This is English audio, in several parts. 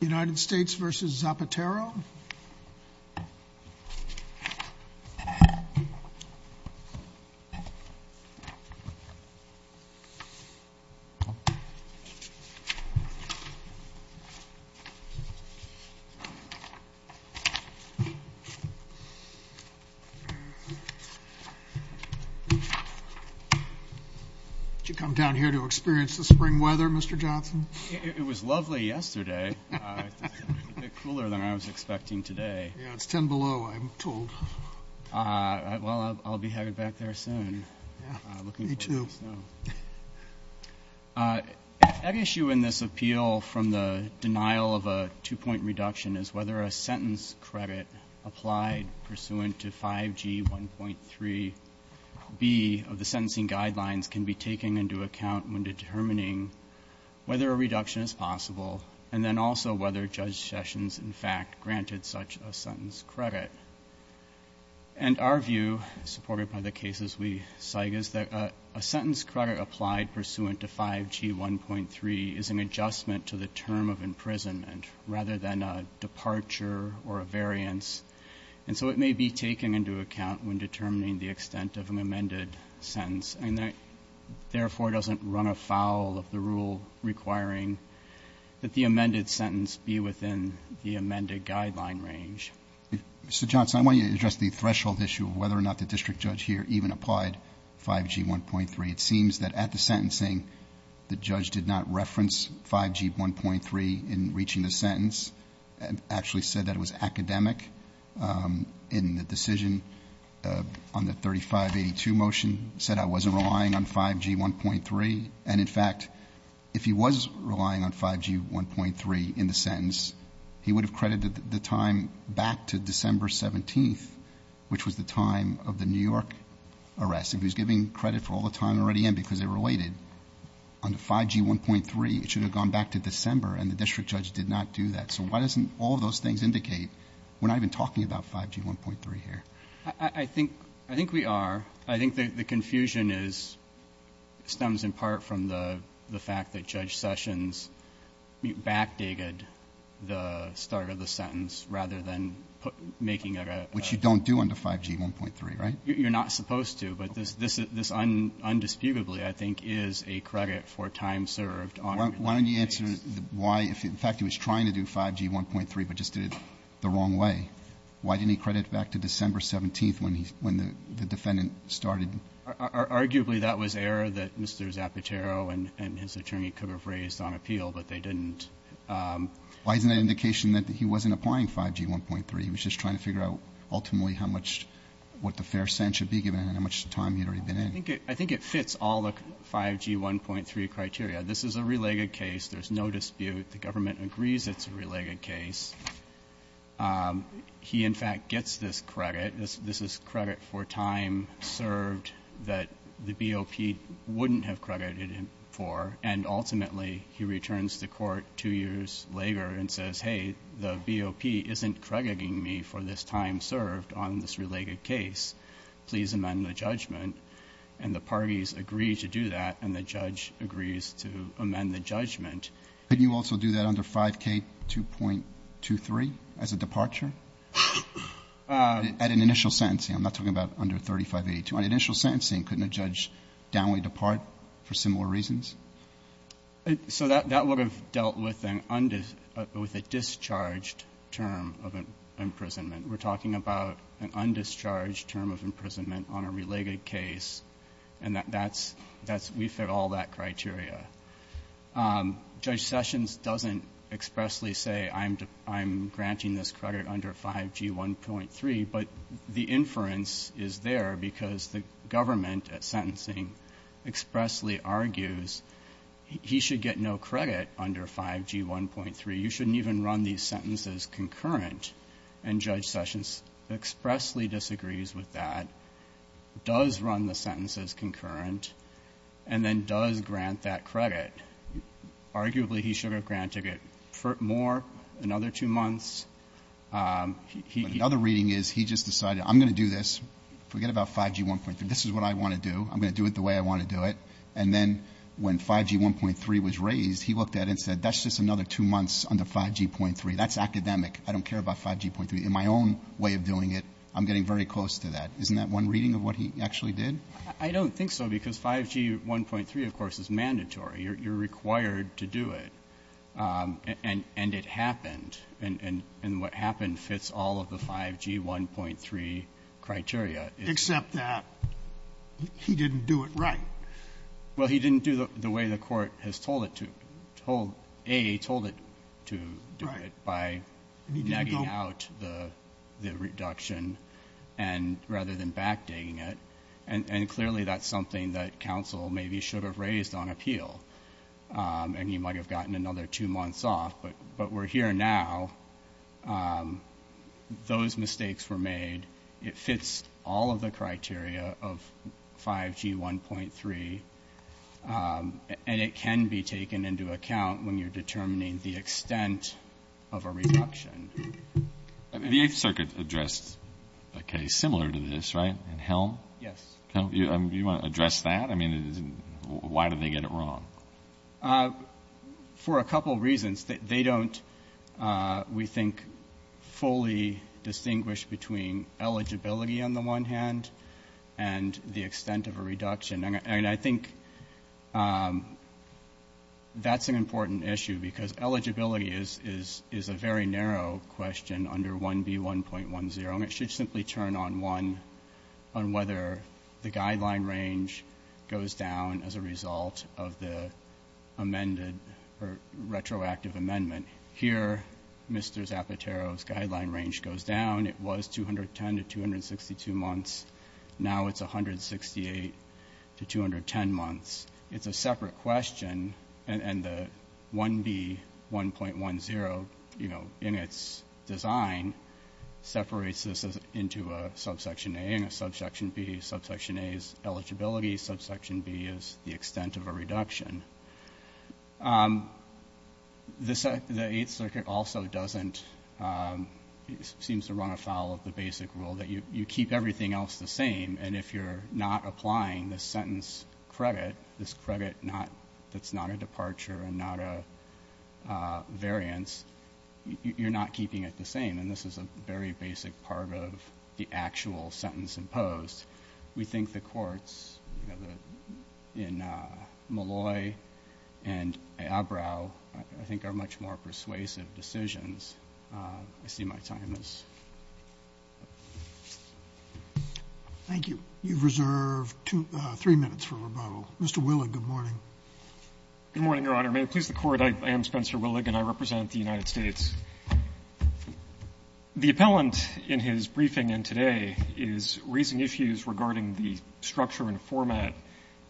United States v. Zapatero Did you come down here to experience the spring weather, Mr. Johnson? It was lovely yesterday, cooler than I was expecting today. Yeah, it's 10 below, I'm told. Well, I'll be headed back there soon. Me too. An issue in this appeal from the denial of a two-point reduction is whether a sentence credit applied pursuant to 5G 1.3b of the sentencing guidelines can be taken into account when determining whether a reduction is possible, and then also whether Judge Sessions, in fact, granted such a sentence credit. And our view, supported by the cases we cite, is that a sentence credit applied pursuant to 5G 1.3 is an adjustment to the term of imprisonment rather than a departure or a variance. And so it may be taken into account when determining the extent of an amended sentence, and therefore doesn't run afoul of the rule requiring that the amended sentence be within the amended guideline range. Mr. Johnson, I want you to address the threshold issue of whether or not the district judge here even applied 5G 1.3. It seems that at the sentencing, the judge did not reference 5G 1.3 in reaching the sentence and actually said that it was academic in the decision on the 3582 motion, said I wasn't relying on 5G 1.3. And, in fact, if he was relying on 5G 1.3 in the sentence, he would have credited the time back to December 17th, which was the time of the New York arrest. If he's giving credit for all the time already in because they're related, on the 5G 1.3, it should have gone back to December, and the district judge did not do that. So why doesn't all of those things indicate we're not even talking about 5G 1.3 here? I think we are. I think the confusion stems in part from the fact that Judge Sessions backdigged the start of the sentence rather than making it a- Which you don't do under 5G 1.3, right? You're not supposed to, but this undisputably, I think, is a credit for time served on- Why don't you answer why? In fact, he was trying to do 5G 1.3, but just did it the wrong way. Why didn't he credit back to December 17th when the defendant started- Arguably, that was error that Mr. Zapatero and his attorney could have raised on appeal, but they didn't. Why isn't it an indication that he wasn't applying 5G 1.3? He was just trying to figure out ultimately how much, what the fair sentence should be given and how much time he'd already been in. I think it fits all the 5G 1.3 criteria. This is a related case. There's no dispute. The government agrees it's a related case. He, in fact, gets this credit. This is credit for time served that the BOP wouldn't have credited him for. And ultimately, he returns to court two years later and says, Hey, the BOP isn't crediting me for this time served on this related case. Please amend the judgment. And the parties agree to do that, and the judge agrees to amend the judgment. Could you also do that under 5K 2.23 as a departure? At an initial sentencing. I'm not talking about under 3582. On initial sentencing, couldn't a judge downweigh the part for similar reasons? So that would have dealt with a discharged term of imprisonment. We're talking about an undischarged term of imprisonment on a related case, and that's we fit all that criteria. Judge Sessions doesn't expressly say I'm granting this credit under 5G 1.3, but the inference is there because the government at sentencing expressly argues he should get no credit under 5G 1.3. You shouldn't even run these sentences concurrent. And Judge Sessions expressly disagrees with that, does run the sentences concurrent, and then does grant that credit. Arguably he should have granted it more, another two months. Another reading is he just decided I'm going to do this. Forget about 5G 1.3. This is what I want to do. I'm going to do it the way I want to do it. And then when 5G 1.3 was raised, he looked at it and said that's just another two months under 5G.3. That's academic. I don't care about 5G.3. In my own way of doing it, I'm getting very close to that. Isn't that one reading of what he actually did? I don't think so because 5G 1.3, of course, is mandatory. You're required to do it. And it happened. And what happened fits all of the 5G 1.3 criteria. Except that he didn't do it right. Well, he didn't do it the way the court has told it to. By negging out the reduction rather than backdating it. And clearly that's something that counsel maybe should have raised on appeal. And he might have gotten another two months off. But we're here now. Those mistakes were made. It fits all of the criteria of 5G 1.3. And it can be taken into account when you're determining the extent of a reduction. The Eighth Circuit addressed a case similar to this, right, in Helm? Yes. Do you want to address that? I mean, why did they get it wrong? For a couple reasons. They don't, we think, fully distinguish between eligibility on the one hand and the extent of a reduction. And I think that's an important issue. Because eligibility is a very narrow question under 1B 1.10. And it should simply turn on whether the guideline range goes down as a result of the amended or retroactive amendment. Here, Mr. Zapatero's guideline range goes down. It was 210 to 262 months. Now it's 168 to 210 months. It's a separate question. And the 1B 1.10, you know, in its design, separates this into a Subsection A and a Subsection B. Subsection A is eligibility. Subsection B is the extent of a reduction. The Eighth Circuit also doesn't, seems to run afoul of the basic rule that you keep everything else the same. And if you're not applying the sentence credit, this credit that's not a departure and not a variance, you're not keeping it the same. And this is a very basic part of the actual sentence imposed. We think the courts in Molloy and Abrao, I think, are much more persuasive decisions. I see my time as. Thank you. You've reserved three minutes for rebuttal. Mr. Willig, good morning. Good morning, Your Honor. May it please the Court, I am Spencer Willig and I represent the United States. The appellant in his briefing in today is raising issues regarding the structure and format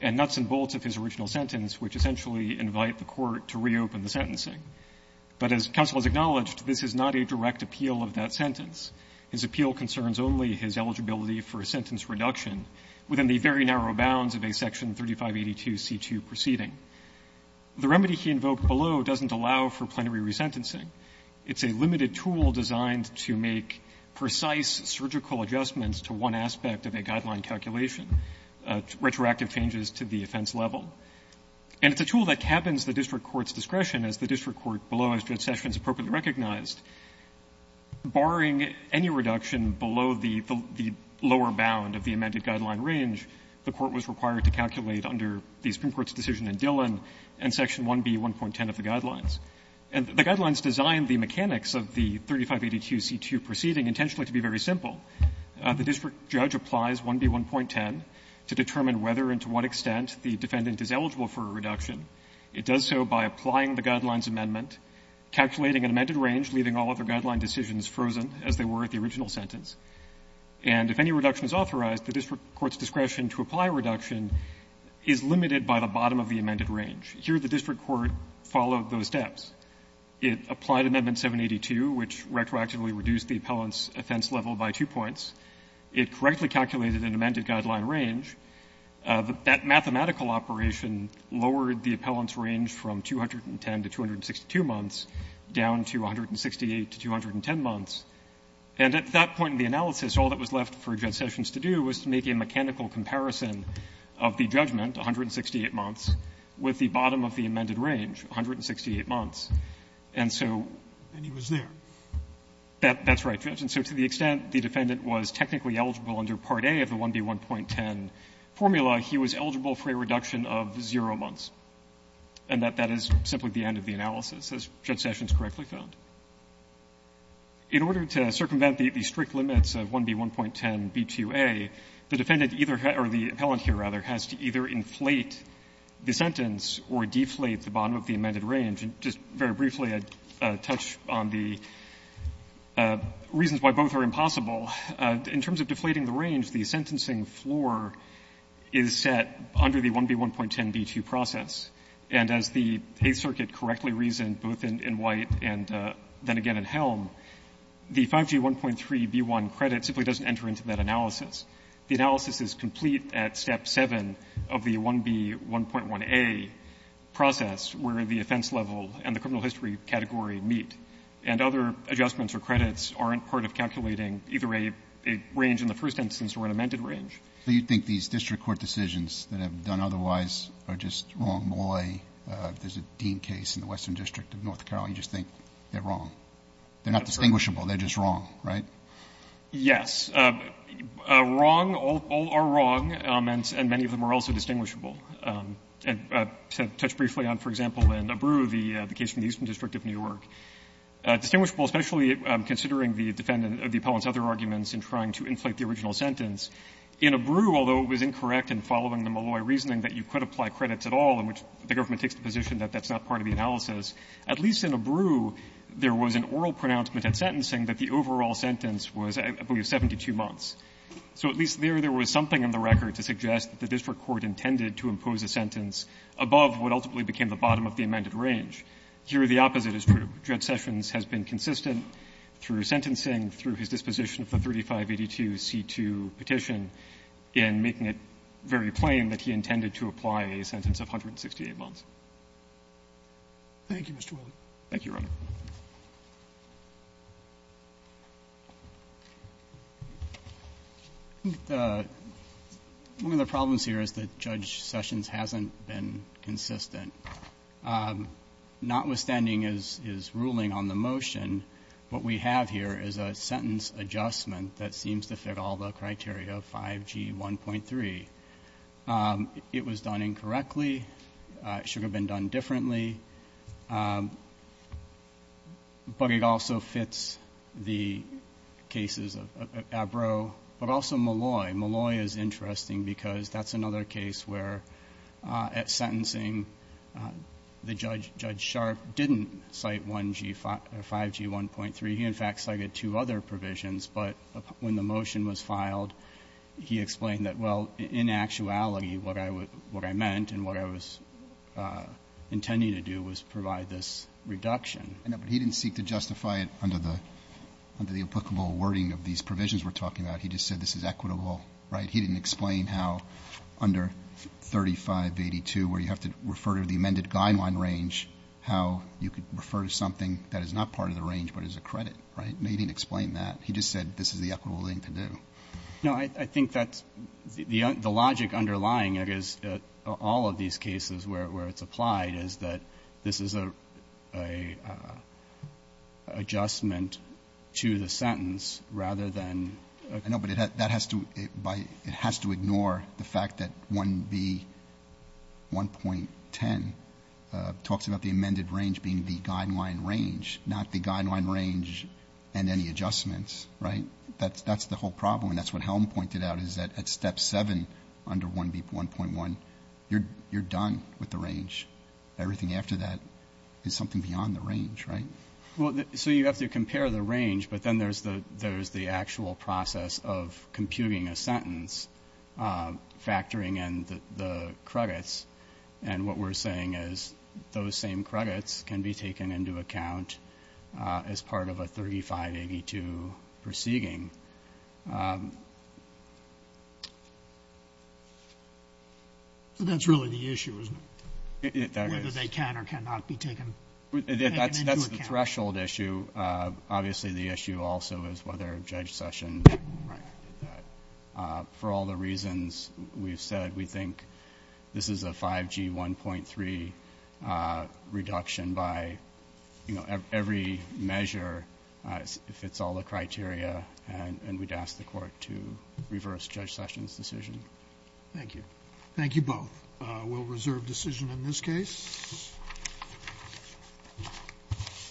and nuts and bolts of his original sentence, which essentially invite the Court to reopen the sentencing. But as counsel has acknowledged, this is not a direct appeal of that sentence. His appeal concerns only his eligibility for a sentence reduction within the very narrow bounds of a Section 3582c2 proceeding. The remedy he invoked below doesn't allow for plenary resentencing. It's a limited tool designed to make precise surgical adjustments to one aspect of a guideline calculation, retroactive changes to the offense level. And it's a tool that cabins the district court's discretion, as the district court below has judged Sessions appropriately recognized. Barring any reduction below the lower bound of the amended guideline range, the court was required to calculate under the Supreme Court's decision in Dillon and Section 1B1.10 of the guidelines. And the guidelines design the mechanics of the 3582c2 proceeding intentionally to be very simple. The district judge applies 1B1.10 to determine whether and to what extent the defendant is eligible for a reduction. It does so by applying the guidelines amendment, calculating an amended range, leaving all other guideline decisions frozen as they were at the original sentence. And if any reduction is authorized, the district court's discretion to apply a reduction is limited by the bottom of the amended range. Here, the district court followed those steps. It applied Amendment 782, which retroactively reduced the appellant's offense level by two points. It correctly calculated an amended guideline range. That mathematical operation lowered the appellant's range from 210 to 262 months down to 168 to 210 months. And at that point in the analysis, all that was left for Judge Sessions to do was to make a mechanical comparison of the judgment, 168 months, with the bottom of the amended range, 168 months. And so to the extent the defendant was technically eligible under Part A of the 1B1.10 formula, he was eligible for a reduction of zero months, and that that is simply the end of the analysis, as Judge Sessions correctly found. In order to circumvent the strict limits of 1B1.10b2a, the defendant either or the appellant here, rather, has to either inflate the sentence or deflate the bottom of the amended range. And just very briefly, I'd touch on the reasons why both are impossible. In terms of deflating the range, the sentencing floor is set under the 1B1.10b2 process. And as the Eighth Circuit correctly reasoned, both in White and then again in Helm, the 5G1.3b1 credit simply doesn't enter into that analysis. The analysis is complete at step 7 of the 1B1.1a process, where the offense level and the criminal history category meet. And other adjustments or credits aren't part of calculating either a range in the first instance or an amended range. Roberts, do you think these district court decisions that have done otherwise are just wrong? Malloy, there's a Dean case in the Western District of North Carolina, you just think they're wrong? They're not distinguishable, they're just wrong, right? Yes. Wrong, all are wrong, and many of them are also distinguishable. And to touch briefly on, for example, in Abreu, the case from the Eastern District of New York, distinguishable, especially considering the defendant, the appellant's other arguments in trying to inflate the original sentence, in Abreu, although it was incorrect in following the Malloy reasoning that you could apply credits at all, in which the government takes the position that that's not part of the analysis, at least in Abreu, there was an oral pronouncement at sentencing that the overall sentence was, I believe, 72 months. So at least there, there was something in the record to suggest that the district court intended to impose a sentence above what ultimately became the bottom of the amended range. Here, the opposite is true. Judge Sessions has been consistent through sentencing, through his disposition of the 3582C2 petition, in making it very plain that he intended to apply a sentence of 168 months. Thank you, Mr. Whalen. Thank you, Your Honor. One of the problems here is that Judge Sessions hasn't been consistent. Notwithstanding his ruling on the motion, what we have here is a sentence adjustment that seems to fit all the criteria of 5G1.3. It was done incorrectly. It should have been done differently. But it also fits the cases of Abreu, but also Malloy. Malloy is interesting because that's another case where at sentencing, the judge, Judge Sharp, didn't cite 5G1.3. He, in fact, cited two other provisions. But when the motion was filed, he explained that, well, in actuality, what I meant and what I was intending to do was provide this reduction. No, but he didn't seek to justify it under the applicable wording of these provisions we're talking about. He just said this is equitable, right? He didn't explain how under 3582, where you have to refer to the amended guideline range, how you could refer to something that is not part of the range but is a credit, right? No, he didn't explain that. He just said this is the equitable thing to do. No, I think that's the logic underlying, I guess, all of these cases where it's applied is that this is an adjustment to the sentence rather than No, but that has to, it has to ignore the fact that 1B1.10 talks about the amended range being the guideline range, not the guideline range and any adjustments, right? That's the whole problem. And that's what Helm pointed out is that at step 7 under 1B1.1, you're done with the range. Everything after that is something beyond the range, right? Well, so you have to compare the range, but then there's the actual process of computing a sentence, factoring in the credits. And what we're saying is those same credits can be taken into account as part of a 3582 proceeding. So that's really the issue, isn't it? Whether they can or cannot be taken into account. That's the threshold issue. Obviously, the issue also is whether Judge Session reacted to that. For all the reasons we've said, we think this is a 5G1.3 reduction by every measure, if it's all the criteria, and we'd ask the court to reverse Judge Session's decision. Thank you. Thank you both. We'll reserve decision in this case. Thank you.